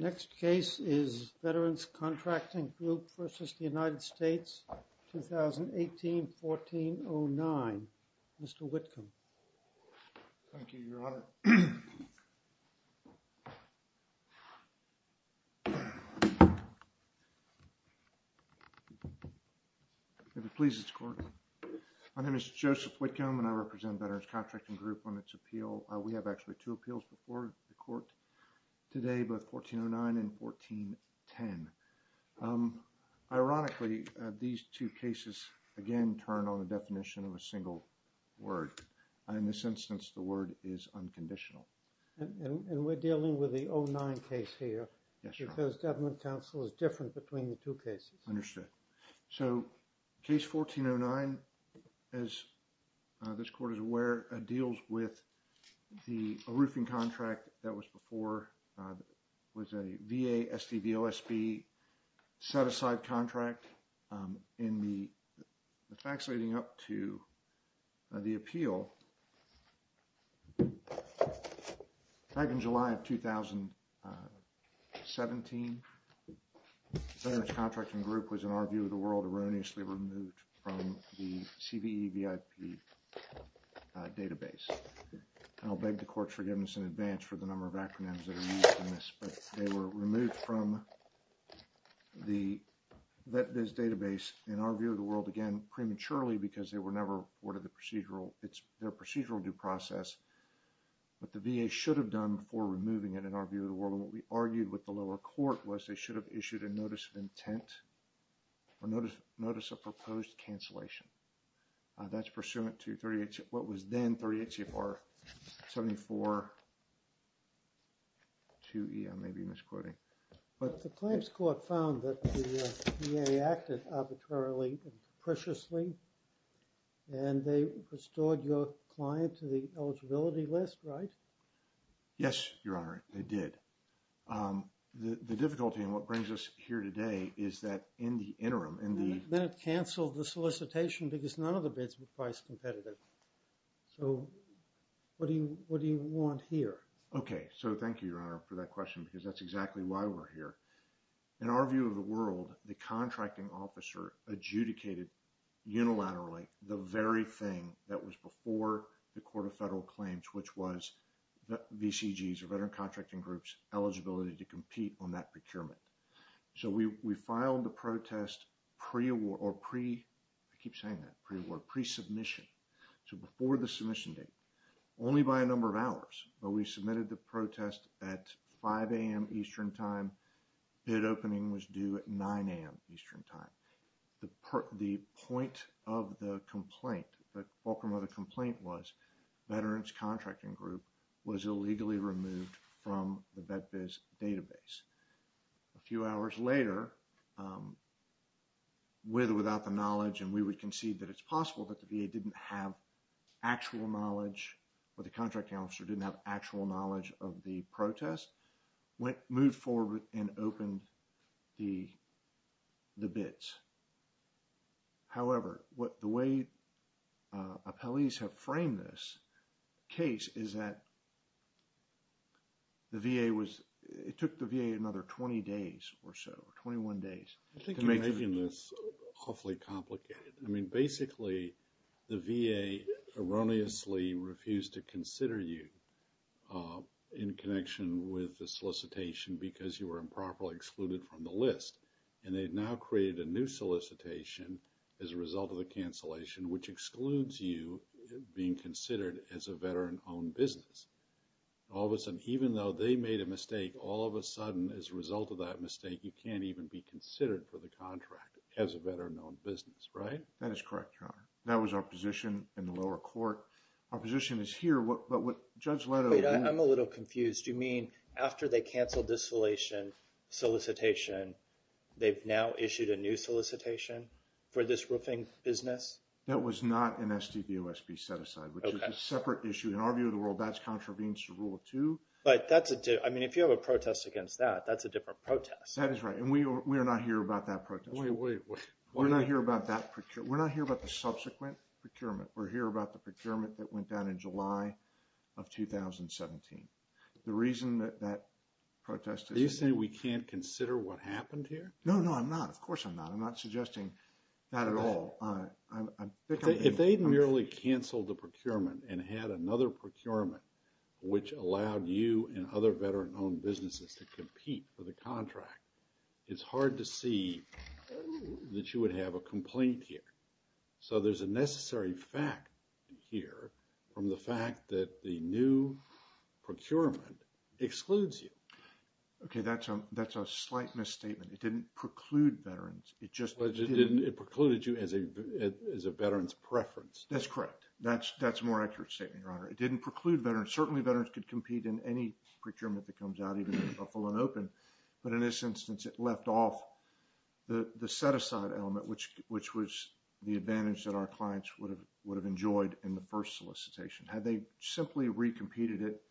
Next case is Veterans Contracting Group versus the United States, 2018-1409. Mr. Whitcomb. Thank you, Your Honor. If it pleases the Court, my name is Joseph Whitcomb and I represent Veterans Contracting Group on its appeal. We have actually two appeals before the Court today, both 1409 and 1410. Ironically, these two cases, again, turn on the definition of a single word. In this instance, the word is unconditional. And we're dealing with the 09 case here? Yes, Your Honor. Because government counsel is different between the two cases. Understood. So, case 1409, as this Court is aware, deals with the roofing contract that was before, was a VA SDVOSB set-aside contract in the facts leading up to the appeal. So, back in July of 2017, Veterans Contracting Group was, in our view of the world, erroneously removed from the CVEVIP database. And I'll beg the Court's forgiveness in advance for the number of acronyms that are used in this, but they were removed from this database, in our view of the world, again, prematurely, because they were never reported their procedural due process. But the VA should have done before removing it, in our view of the world. And what we argued with the lower court was they should have issued a notice of intent, or notice of proposed cancellation. That's pursuant to what was then 38 CFR 74-2E. I may be misquoting. The claims court found that the VA acted arbitrarily and capriciously, and they restored your client to the eligibility list, right? Yes, Your Honor, they did. The difficulty, and what brings us here today, is that in the interim, in the- Then it canceled the solicitation because none of the bids were price competitive. So, what do you want here? Okay, so thank you, Your Honor, for that question, because that's exactly why we're here. In our view of the world, the contracting officer adjudicated, unilaterally, the very thing that was before the Court of Federal Claims, which was VCG's, or Veteran Contracting Group's, eligibility to compete on that procurement. So, we filed the protest pre-award, or pre- I keep saying that, pre-award, pre-submission. So, before the submission date, only by a number of hours, but we submitted the protest at 5 a.m. Eastern Time. Bid opening was due at 9 a.m. Eastern Time. The point of the complaint, the fulcrum of the complaint was, Veteran's Contracting Group was illegally removed from the VetBiz database. A few hours later, with or without the knowledge, and we would concede that it's possible that the VA didn't have actual knowledge, or the contracting officer didn't have actual knowledge of the protest, moved forward and opened the bids. However, the way appellees have framed this case is that the VA was, it took the VA another 20 days or so, 21 days. I think you're making this awfully complicated. I mean, basically, the VA erroneously refused to consider you in connection with the solicitation because you were improperly excluded from the list. And they've now created a new solicitation as a result of the cancellation, which excludes you being considered as a veteran-owned business. All of a sudden, even though they made a mistake, all of a sudden, as a result of that mistake, you can't even be considered for the contract as a veteran-owned business. Right? That is correct, Your Honor. That was our position in the lower court. Our position is here, but what Judge Leto- Wait, I'm a little confused. You mean, after they canceled this solution, solicitation, they've now issued a new solicitation for this roofing business? That was not an SDVOSB set-aside, which is a separate issue. In our view of the world, that's contravenes to Rule 2. I mean, if you have a protest against that, that's a different protest. That is right, and we are not here about that protest. Wait, wait, wait. We're not here about that procure- We're not here about the subsequent procurement. We're here about the procurement that went down in July of 2017. The reason that that protest is- Are you saying we can't consider what happened here? No, no, I'm not. Of course I'm not. I'm not suggesting that at all. If they merely canceled the procurement and had another procurement, which allowed you and other veteran-owned businesses to compete for the contract, it's hard to see that you would have a complaint here. So, there's a necessary fact here from the fact that the new procurement excludes you. Okay, that's a slight misstatement. It didn't preclude veterans. It just didn't- It precluded you as a veteran's preference. That's correct. That's a more accurate statement, Your Honor. It didn't preclude veterans. Certainly, veterans could compete in any procurement that comes out, even in a full and open. But in this instance, it left off the set-aside element, which was the advantage that our clients would have enjoyed in the first solicitation. Had they simply recompeted it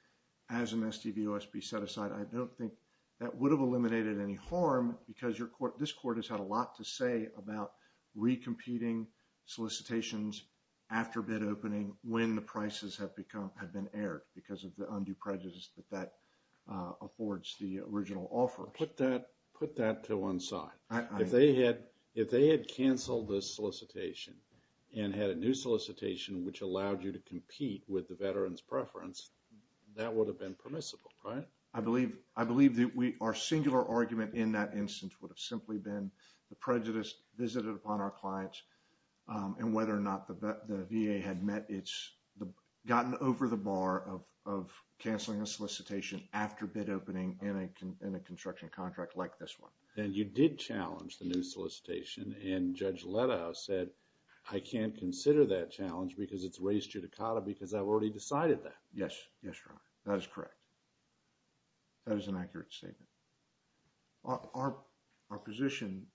as an SDV-OSB set-aside, I don't think that would have eliminated any harm because this court has had a lot to say about recompeting solicitations after bid opening when the prices have been aired because of the undue prejudice that that affords the original offer. Put that to one side. If they had canceled this solicitation and had a new solicitation, which allowed you to compete with the veteran's preference, that would have been permissible, right? I believe that our singular argument in that instance would have simply been the prejudice visited upon our clients and whether or not the VA had gotten over the bar of canceling a solicitation after bid opening in a construction contract like this one. And you did challenge the new solicitation, and Judge Leto said, I can't consider that challenge because it's raised judicata because I've already decided that. Yes, Your Honor. That is correct. That is an accurate statement. Our position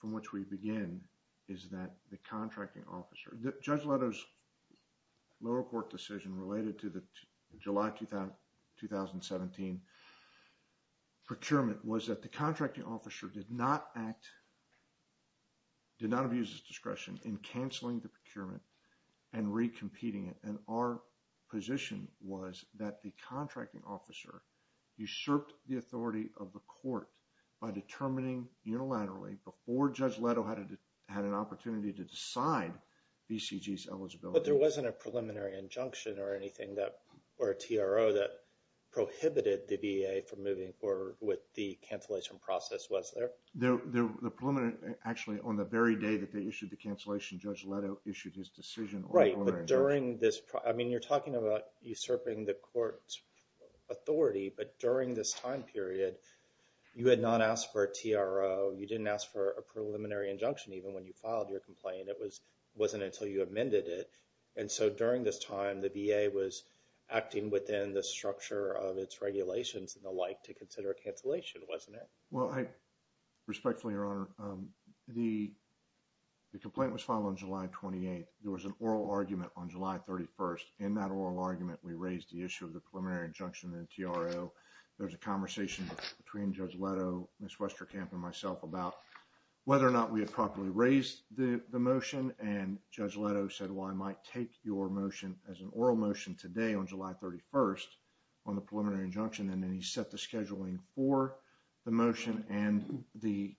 from which we begin is that the contracting officer... Judge Leto's lower court decision related to the July 2017 procurement was that the contracting officer did not act... did not abuse his discretion in canceling the procurement and recompeting it. And our position was that the contracting officer usurped the authority of the court by determining unilaterally before Judge Leto had an opportunity to decide BCG's eligibility. But there wasn't a preliminary injunction or anything that... or a TRO that prohibited the VA from moving forward with the cancellation process, was there? The preliminary... actually, on the very day that they issued the cancellation, Judge Leto issued his decision... Right, but during this... I mean, you're talking about usurping the court's authority, but during this time period, you had not asked for a TRO. You didn't ask for a preliminary injunction even when you filed your complaint. It wasn't until you amended it. And so during this time, the VA was acting within the structure of its regulations and the like to consider a cancellation, wasn't it? Well, respectfully, Your Honor, the complaint was filed on July 28th. There was an oral argument on July 31st. In that oral argument, we raised the issue of the preliminary injunction and TRO. There's a conversation between Judge Leto, Ms. Westerkamp, and myself about whether or not we had properly raised the motion. And Judge Leto said, well, I might take your motion as an oral motion today on July 31st on the preliminary injunction. And then he set the scheduling for the motion and the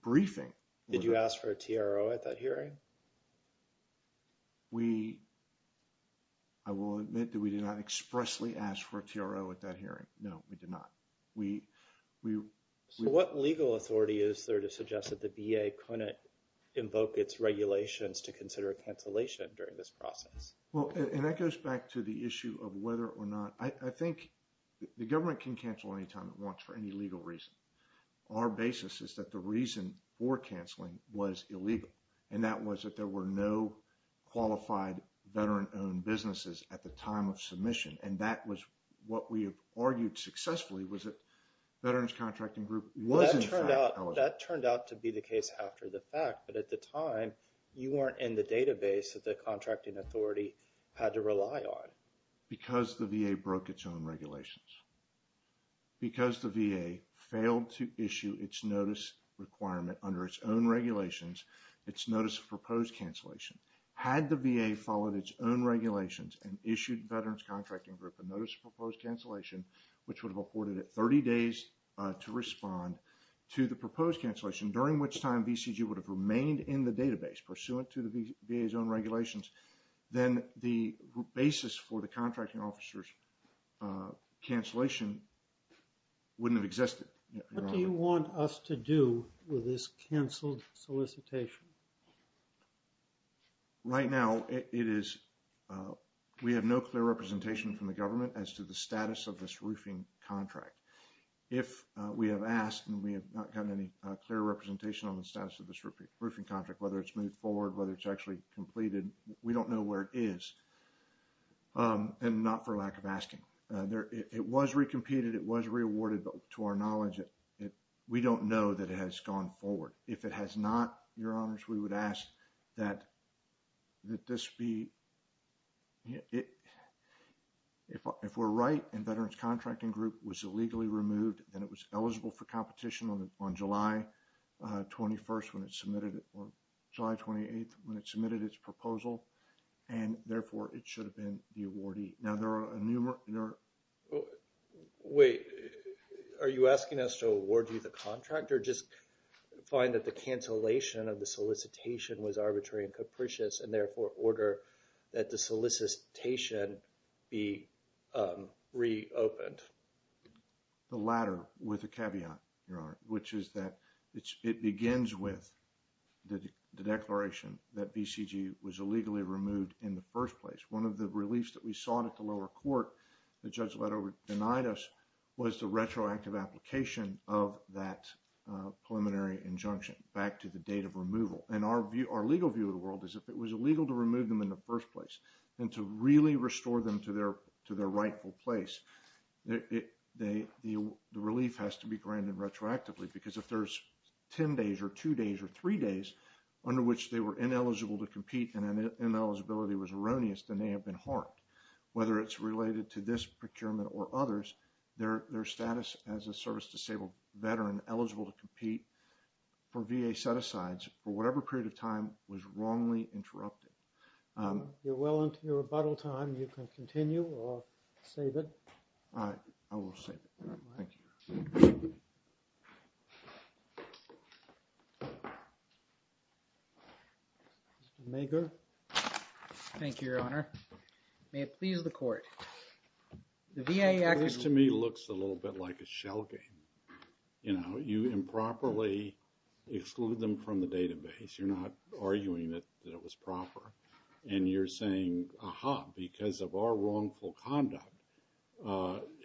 briefing. Did you ask for a TRO at that hearing? We, I will admit that we did not expressly ask for a TRO at that hearing. No, we did not. So what legal authority is there to suggest that the VA couldn't invoke its regulations to consider a cancellation during this process? Well, and that goes back to the issue of whether or not. I think the government can cancel anytime it wants for any legal reason. Our basis is that the reason for canceling was illegal. And that was that there were no qualified veteran-owned businesses at the time of submission. And that was what we argued successfully was that Veterans Contracting Group was in fact eligible. That turned out to be the case after the fact. But at the time, you weren't in the database that the contracting authority had to rely on. Because the VA broke its own regulations. Because the VA failed to issue its notice requirement under its own regulations, its notice of proposed cancellation. Had the VA followed its own regulations and issued Veterans Contracting Group a notice of proposed cancellation, which would have afforded it 30 days to respond to the proposed cancellation, during which time VCG would have remained in the database pursuant to the VA's own regulations, then the basis for the contracting officer's cancellation wouldn't have existed. What do you want us to do with this canceled solicitation? Right now, we have no clear representation from the government as to the status of this roofing contract. If we have asked and we have not gotten any clear representation on the status of this roofing contract, whether it's moved forward, whether it's actually completed, we don't know where it is. And not for lack of asking. It was re-competed. It was re-awarded. But to our knowledge, we don't know that it has gone forward. If it has not, Your Honors, we would ask that this be – if we're right and Veterans Contracting Group was illegally removed, then it was eligible for competition on July 21st when it submitted – or July 28th when it submitted its proposal. And therefore, it should have been the awardee. Now, there are a – Wait. Are you asking us to award you the contract or just find that the cancellation of the solicitation was arbitrary and capricious and therefore order that the solicitation be reopened? The latter with a caveat, Your Honor, which is that it begins with the declaration that BCG was illegally removed in the first place. One of the reliefs that we sought at the lower court, the judge denied us, was the retroactive application of that preliminary injunction back to the date of removal. And our legal view of the world is if it was illegal to remove them in the first place and to really restore them to their rightful place, the relief has to be granted retroactively. Because if there's 10 days or 2 days or 3 days under which they were ineligible to compete and that ineligibility was erroneous, then they have been harmed. Whether it's related to this procurement or others, their status as a service-disabled Veteran eligible to compete for VA set-asides for whatever period of time was wrongly interrupted. If you're well into your rebuttal time, you can continue or save it. I will save it. Thank you. Mr. Mager. Thank you, Your Honor. May it please the court. This to me looks a little bit like a shell game. You're not arguing that it was proper. And you're saying, aha, because of our wrongful conduct,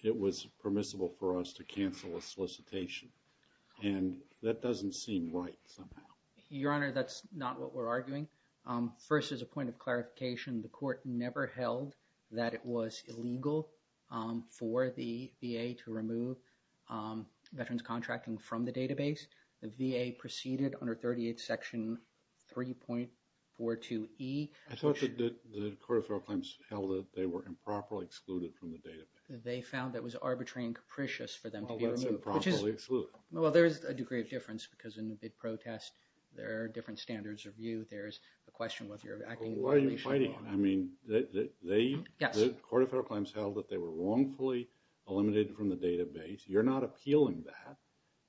it was permissible for us to cancel a solicitation. And that doesn't seem right somehow. Your Honor, that's not what we're arguing. First, as a point of clarification, the court never held that it was illegal for the VA to remove Veterans contracting from the database. The VA proceeded under 38 Section 3.42e. I thought that the Court of Federal Claims held that they were improperly excluded from the database. They found that was arbitrary and capricious for them to be removed. Well, that's improperly excluded. Well, there's a degree of difference because in the bid protest, there are different standards of view. There's a question whether you're acting in violation or not. Well, why are you fighting it? I mean, the Court of Federal Claims held that they were wrongfully eliminated from the database. You're not appealing that.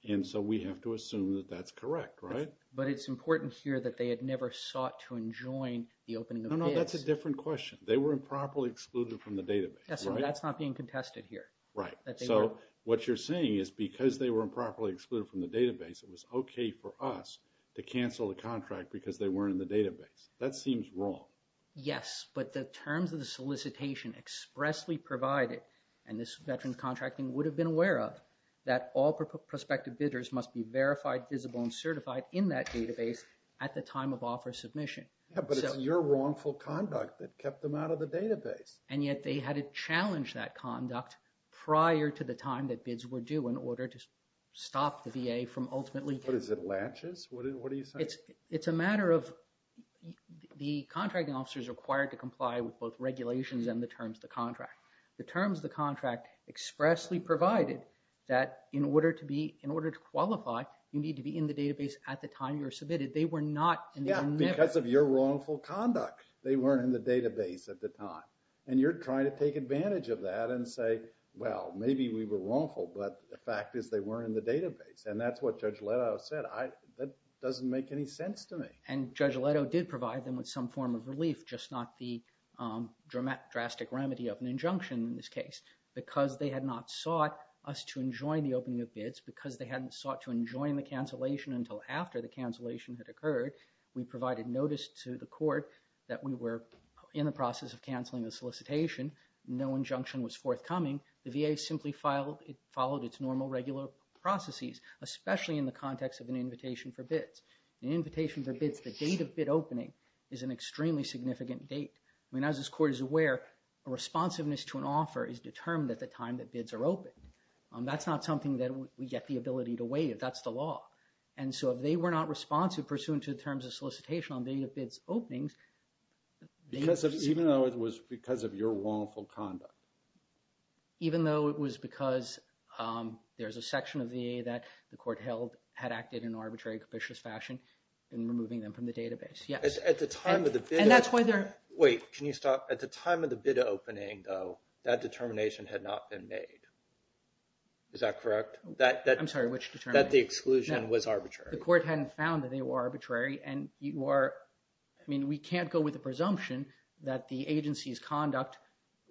And so we have to assume that that's correct, right? But it's important here that they had never sought to enjoin the opening of bids. No, no, that's a different question. They were improperly excluded from the database, right? Yes, but that's not being contested here. Right. So what you're saying is because they were improperly excluded from the database, it was okay for us to cancel the contract because they weren't in the database. That seems wrong. Yes, but the terms of the solicitation expressly provided, and this veteran contracting would have been aware of, that all prospective bidders must be verified, visible, and certified in that database at the time of offer submission. Yeah, but it's your wrongful conduct that kept them out of the database. And yet they had to challenge that conduct prior to the time that bids were due in order to stop the VA from ultimately getting it. What is it, laches? What are you saying? It's a matter of the contracting officers required to comply with both regulations and the terms of the contract. The terms of the contract expressly provided that in order to qualify, you need to be in the database at the time you're submitted. They were not and they were never. Yeah, because of your wrongful conduct. They weren't in the database at the time. And you're trying to take advantage of that and say, well, maybe we were wrongful, but the fact is they weren't in the database. And that's what Judge Leto said. That doesn't make any sense to me. And Judge Leto did provide them with some form of relief, just not the drastic remedy of an injunction in this case. Because they had not sought us to enjoin the opening of bids, because they hadn't sought to enjoin the cancellation until after the cancellation had occurred, we provided notice to the court that we were in the process of canceling the solicitation. No injunction was forthcoming. The VA simply followed its normal regular processes, especially in the context of an invitation for bids. An invitation for bids, the date of bid opening, is an extremely significant date. I mean, as this court is aware, a responsiveness to an offer is determined at the time that bids are opened. That's not something that we get the ability to waive. That's the law. And so if they were not responsive pursuant to the terms of solicitation on date of bids openings, they would see... Even though it was because of your wrongful conduct. Even though it was because there's a section of the VA that the court held had acted in an arbitrary and capricious fashion in removing them from the database. At the time of the bid... Wait, can you stop? At the time of the bid opening, though, that determination had not been made. Is that correct? I'm sorry, which determination? That the exclusion was arbitrary. The court hadn't found that they were arbitrary, and you are... I mean, we can't go with the presumption that the agency's conduct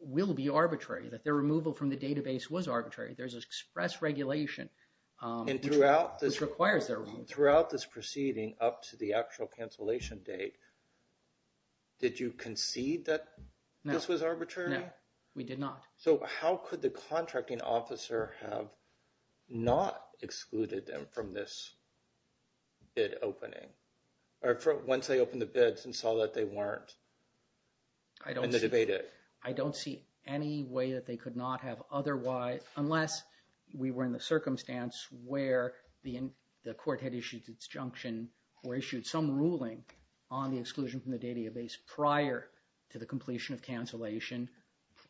will be arbitrary, that their removal from the database was arbitrary. There's express regulation. And throughout this... Which requires their removal. Throughout this proceeding up to the actual cancellation date, did you concede that this was arbitrary? No, we did not. So how could the contracting officer have not excluded them from this bid opening? Or once they opened the bids and saw that they weren't? I don't see... And the debate it. I don't see any way that they could not have otherwise... Unless we were in the circumstance where the court had issued disjunction or issued some ruling on the exclusion from the database prior to the completion of cancellation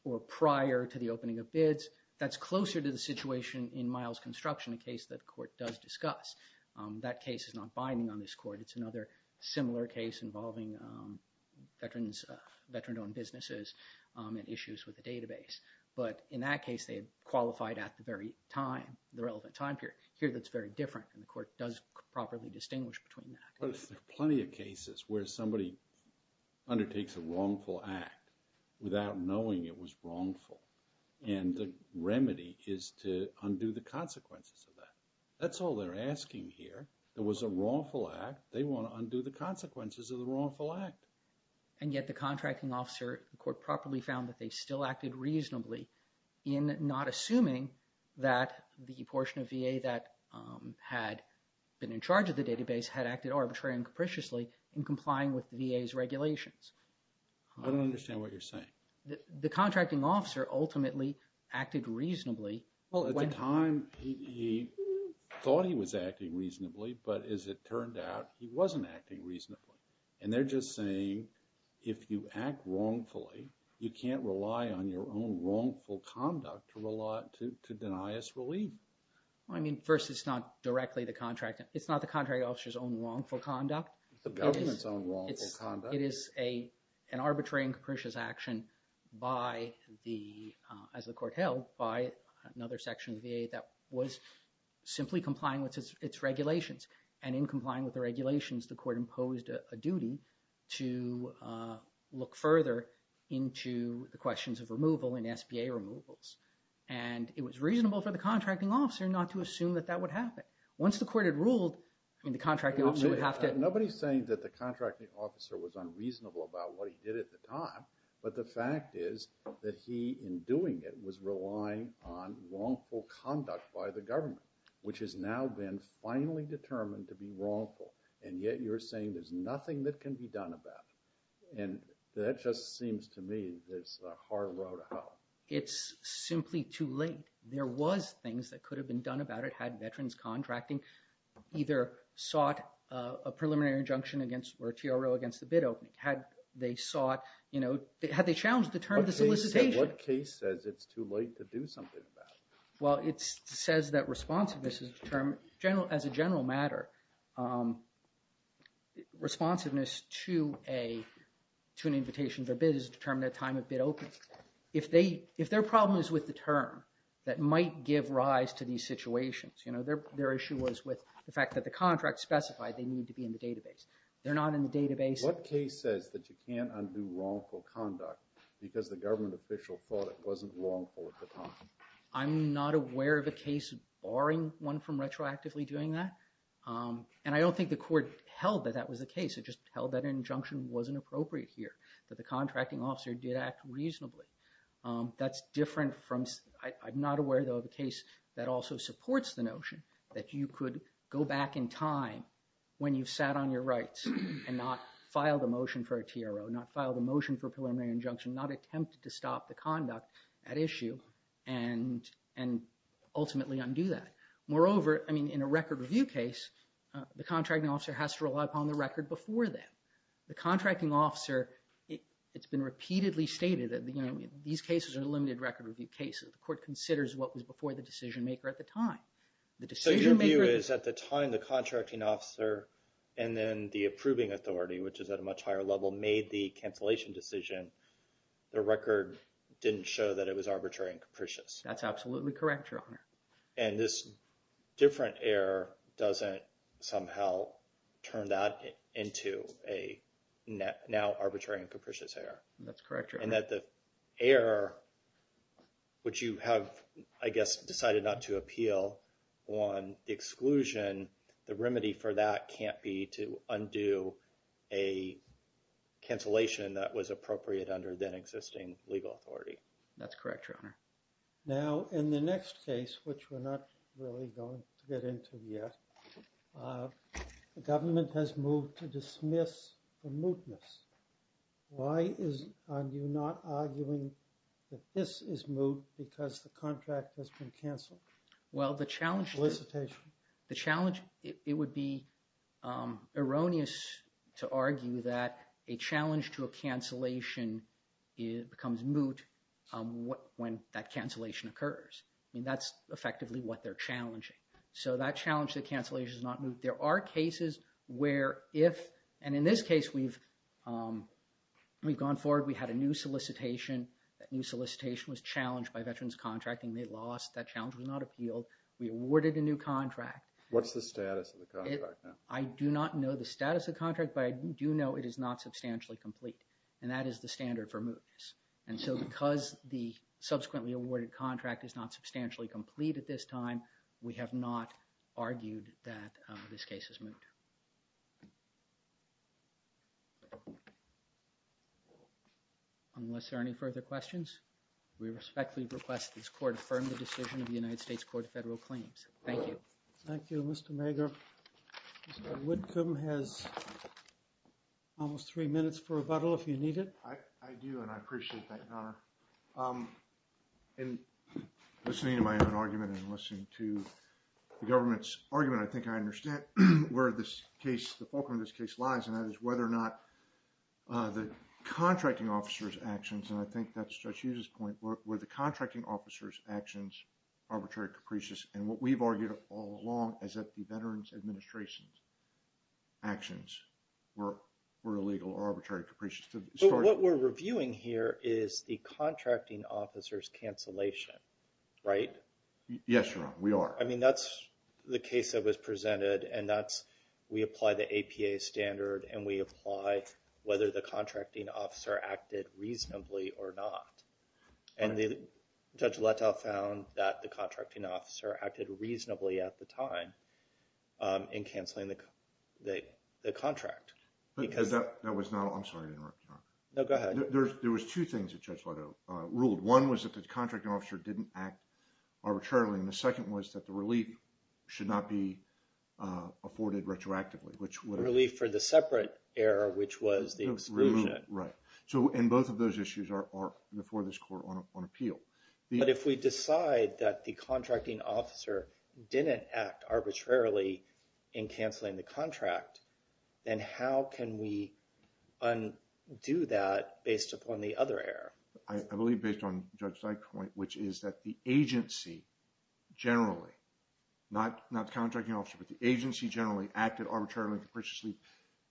or prior to the opening of bids. That's closer to the situation in Miles Construction, a case that the court does discuss. That case is not binding on this court. It's another similar case involving veterans-owned businesses and issues with the database. But in that case, they had qualified at the very time, the relevant time period. Here, that's very different. And the court does properly distinguish between that. But there's plenty of cases where somebody undertakes a wrongful act without knowing it was wrongful. And the remedy is to undo the consequences of that. That's all they're asking here. There was a wrongful act. They want to undo the consequences of the wrongful act. And yet the contracting officer, the court properly found that they still acted reasonably in not assuming that the portion of VA that had been in charge of the database had acted arbitrarily and capriciously in complying with the VA's regulations. I don't understand what you're saying. The contracting officer ultimately acted reasonably. At the time, he thought he was acting reasonably. But as it turned out, he wasn't acting reasonably. And they're just saying if you act wrongfully, you can't rely on your own wrongful conduct to deny us relief. Well, I mean, first, it's not directly the contracting... It's not the contracting officer's own wrongful conduct. It's the government's own wrongful conduct. It is an arbitrary and capricious action by the... as the court held by another section of the VA that was simply complying with its regulations. And in complying with the regulations, the court imposed a duty to look further into the questions of removal and SBA removals. And it was reasonable for the contracting officer not to assume that that would happen. Once the court had ruled... I mean, the contracting officer would have to... Nobody's saying that the contracting officer was unreasonable about what he did at the time. But the fact is that he, in doing it, was relying on wrongful conduct by the government, which has now been finally determined to be wrongful. And yet you're saying there's nothing that can be done about it. And that just seems to me that it's a hard row to hoe. It's simply too late. There was things that could have been done about it had veterans contracting either sought a preliminary injunction against... or a TRO against the bid opening. Had they sought, you know... Had they challenged the term of the solicitation. What case says it's too late to do something about it? Well, it says that responsiveness is determined... As a general matter, responsiveness to an invitation to a bid is determined at the time of bid opening. If their problem is with the term that might give rise to these situations, their issue was with the fact that the contract specified they need to be in the database. They're not in the database... What case says that you can't undo wrongful conduct because the government official thought it wasn't wrongful at the time? I'm not aware of a case barring one from retroactively doing that. And I don't think the court held that that was the case. It just held that injunction wasn't appropriate here. That the contracting officer did act reasonably. That's different from... I'm not aware, though, of a case that also supports the notion that you could go back in time when you've sat on your rights and not filed a motion for a TRO, not filed a motion for a preliminary injunction, not attempted to stop the conduct at issue, and ultimately undo that. Moreover, I mean, in a record review case, the contracting officer has to rely upon the record before that. The contracting officer... It's been repeatedly stated that these cases are limited record review cases. The court considers what was before the decision maker at the time. So your view is at the time the contracting officer and then the approving authority, which is at a much higher level, made the cancellation decision, the record didn't show that it was arbitrary and capricious. That's absolutely correct, Your Honor. And this different error doesn't somehow turn that into a now arbitrary and capricious error. That's correct, Your Honor. And that the error, which you have, I guess, decided not to appeal, on the exclusion, the remedy for that can't be to undo a cancellation that was appropriate under the existing legal authority. That's correct, Your Honor. Now, in the next case, which we're not really going to get into yet, the government has moved to dismiss the mootness. Why are you not arguing that this is moot because the contract has been canceled? Well, the challenge... Solicitation. The challenge, it would be erroneous to argue that a challenge to a cancellation becomes moot when that cancellation occurs. I mean, that's effectively what they're challenging. So that challenge to cancellation is not moot. There are cases where if, and in this case, we've gone forward, we had a new solicitation. That new solicitation was challenged by Veterans Contracting. They lost. That challenge was not appealed. We awarded a new contract. What's the status of the contract now? I do not know the status of the contract, but I do know it is not substantially complete, and that is the standard for mootness. And so because the subsequently awarded contract is not substantially complete at this time, we have not argued that this case is moot. Unless there are any further questions, we respectfully request this court affirm the decision of the United States Court of Federal Claims. Thank you. Thank you, Mr. Mager. Mr. Whitcomb has almost three minutes for rebuttal, if you need it. I do, and I appreciate that, Your Honor. In listening to my own argument and listening to the government's argument, I think I understand where the fulcrum of this case lies, and that is whether or not the contracting officer's actions, and I think that's Judge Hughes's point, were the contracting officer's actions arbitrary capricious, and what we've argued all along, is that the Veterans Administration's actions were illegal or arbitrary capricious. What we're reviewing here is the contracting officer's cancellation, right? Yes, Your Honor, we are. I mean, that's the case that was presented, and we apply the APA standard, and we apply whether the contracting officer acted reasonably or not, and Judge Letoff found that the contracting officer acted reasonably at the time in canceling the contract. That was not all. I'm sorry to interrupt, Your Honor. No, go ahead. There was two things that Judge Letoff ruled. One was that the contracting officer didn't act arbitrarily, and the second was that the relief should not be afforded retroactively, which would have… Relief for the separate error, which was the exclusion. Right, and both of those issues are before this court on appeal. But if we decide that the contracting officer didn't act arbitrarily in canceling the contract, then how can we undo that based upon the other error? I believe based on Judge Dyke's point, which is that the agency generally, not the contracting officer, but the agency generally acted arbitrarily and capriciously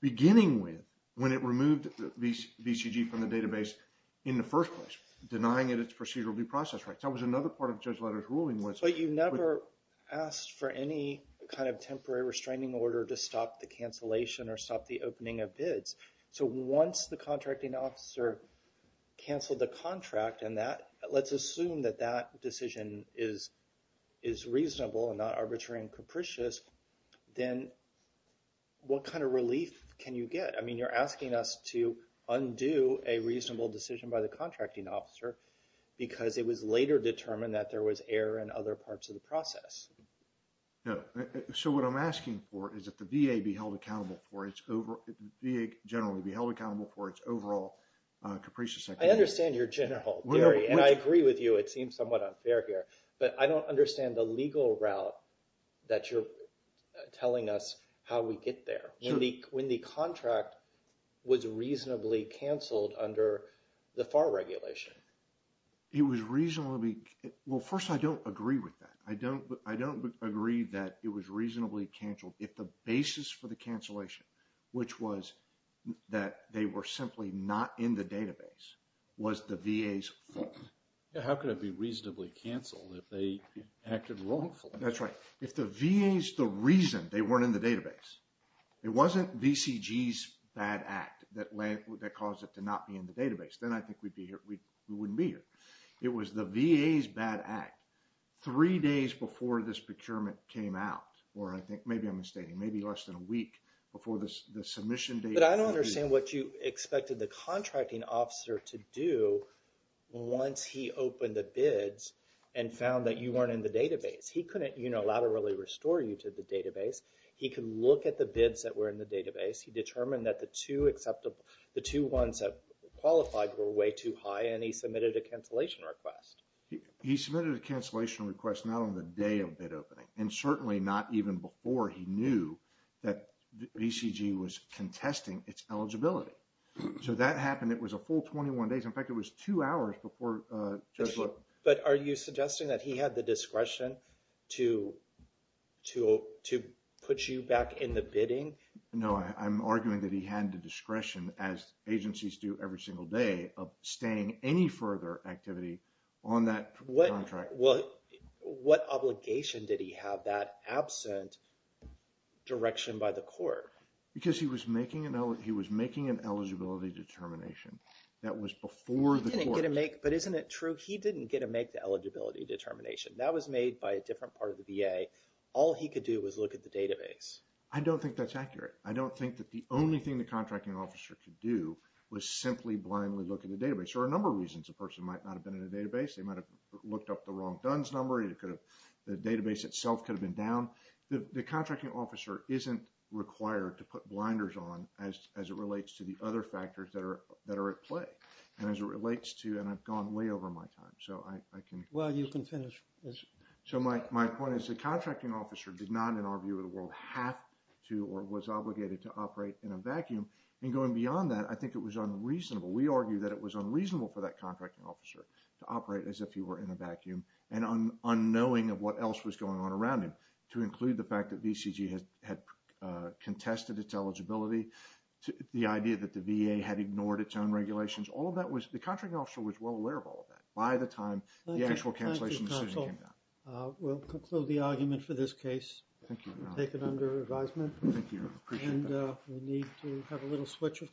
beginning with when it removed VCG from the database in the first place, denying it its procedural due process rights. That was another part of Judge Letoff's ruling was… But you never asked for any kind of temporary restraining order to stop the cancellation or stop the opening of bids. So once the contracting officer canceled the contract, and let's assume that that decision is reasonable and not arbitrary and capricious, then what kind of relief can you get? I mean, you're asking us to undo a reasonable decision by the contracting officer because it was later determined that there was error in other parts of the process. So what I'm asking for is that the VA be held accountable for its overall… The VA generally be held accountable for its overall capricious… I understand your general theory, and I agree with you. It seems somewhat unfair here. But I don't understand the legal route that you're telling us how we get there. When the contract was reasonably canceled under the FAR regulation. It was reasonably… Well, first, I don't agree with that. I don't agree that it was reasonably canceled. If the basis for the cancellation, which was that they were simply not in the database, was the VA's fault. How could it be reasonably canceled if they acted wrongfully? That's right. If the VA's the reason they weren't in the database, it wasn't VCG's bad act that caused it to not be in the database, then I think we wouldn't be here. It was the VA's bad act. Three days before this procurement came out, or I think maybe I'm mistaken, maybe less than a week before the submission date… But I don't understand what you expected the contracting officer to do once he opened the bids and found that you weren't in the database. He couldn't unilaterally restore you to the database. He could look at the bids that were in the database. He determined that the two ones that qualified were way too high, and he submitted a cancellation request. He submitted a cancellation request not on the day of bid opening, and certainly not even before he knew that VCG was contesting its eligibility. So that happened. It was a full 21 days. In fact, it was two hours before… But are you suggesting that he had the discretion to put you back in the bidding? No, I'm arguing that he had the discretion, as agencies do every single day, of staying any further activity on that contract. What obligation did he have that absent direction by the court? Because he was making an eligibility determination that was before the court. But isn't it true? He didn't get to make the eligibility determination. That was made by a different part of the VA. All he could do was look at the database. I don't think that's accurate. I don't think that the only thing the contracting officer could do was simply blindly look at the database. There are a number of reasons a person might not have been in the database. They might have looked up the wrong DUNS number. The database itself could have been down. The contracting officer isn't required to put blinders on as it relates to the other factors that are at play. And as it relates to… And I've gone way over my time, so I can… Well, you can finish. So my point is the contracting officer did not, in our view of the world, have to or was obligated to operate in a vacuum. And going beyond that, I think it was unreasonable. We argue that it was unreasonable for that contracting officer to operate as if he were in a vacuum and unknowing of what else was going on around him to include the fact that VCG had contested its eligibility, the idea that the VA had ignored its own regulations. All of that was… The contracting officer was well aware of all of that by the time the actual cancellation decision came down. Thank you, counsel. We'll conclude the argument for this case. Thank you, Your Honor. Thank you. I appreciate that. And we need to have a little switch of topics.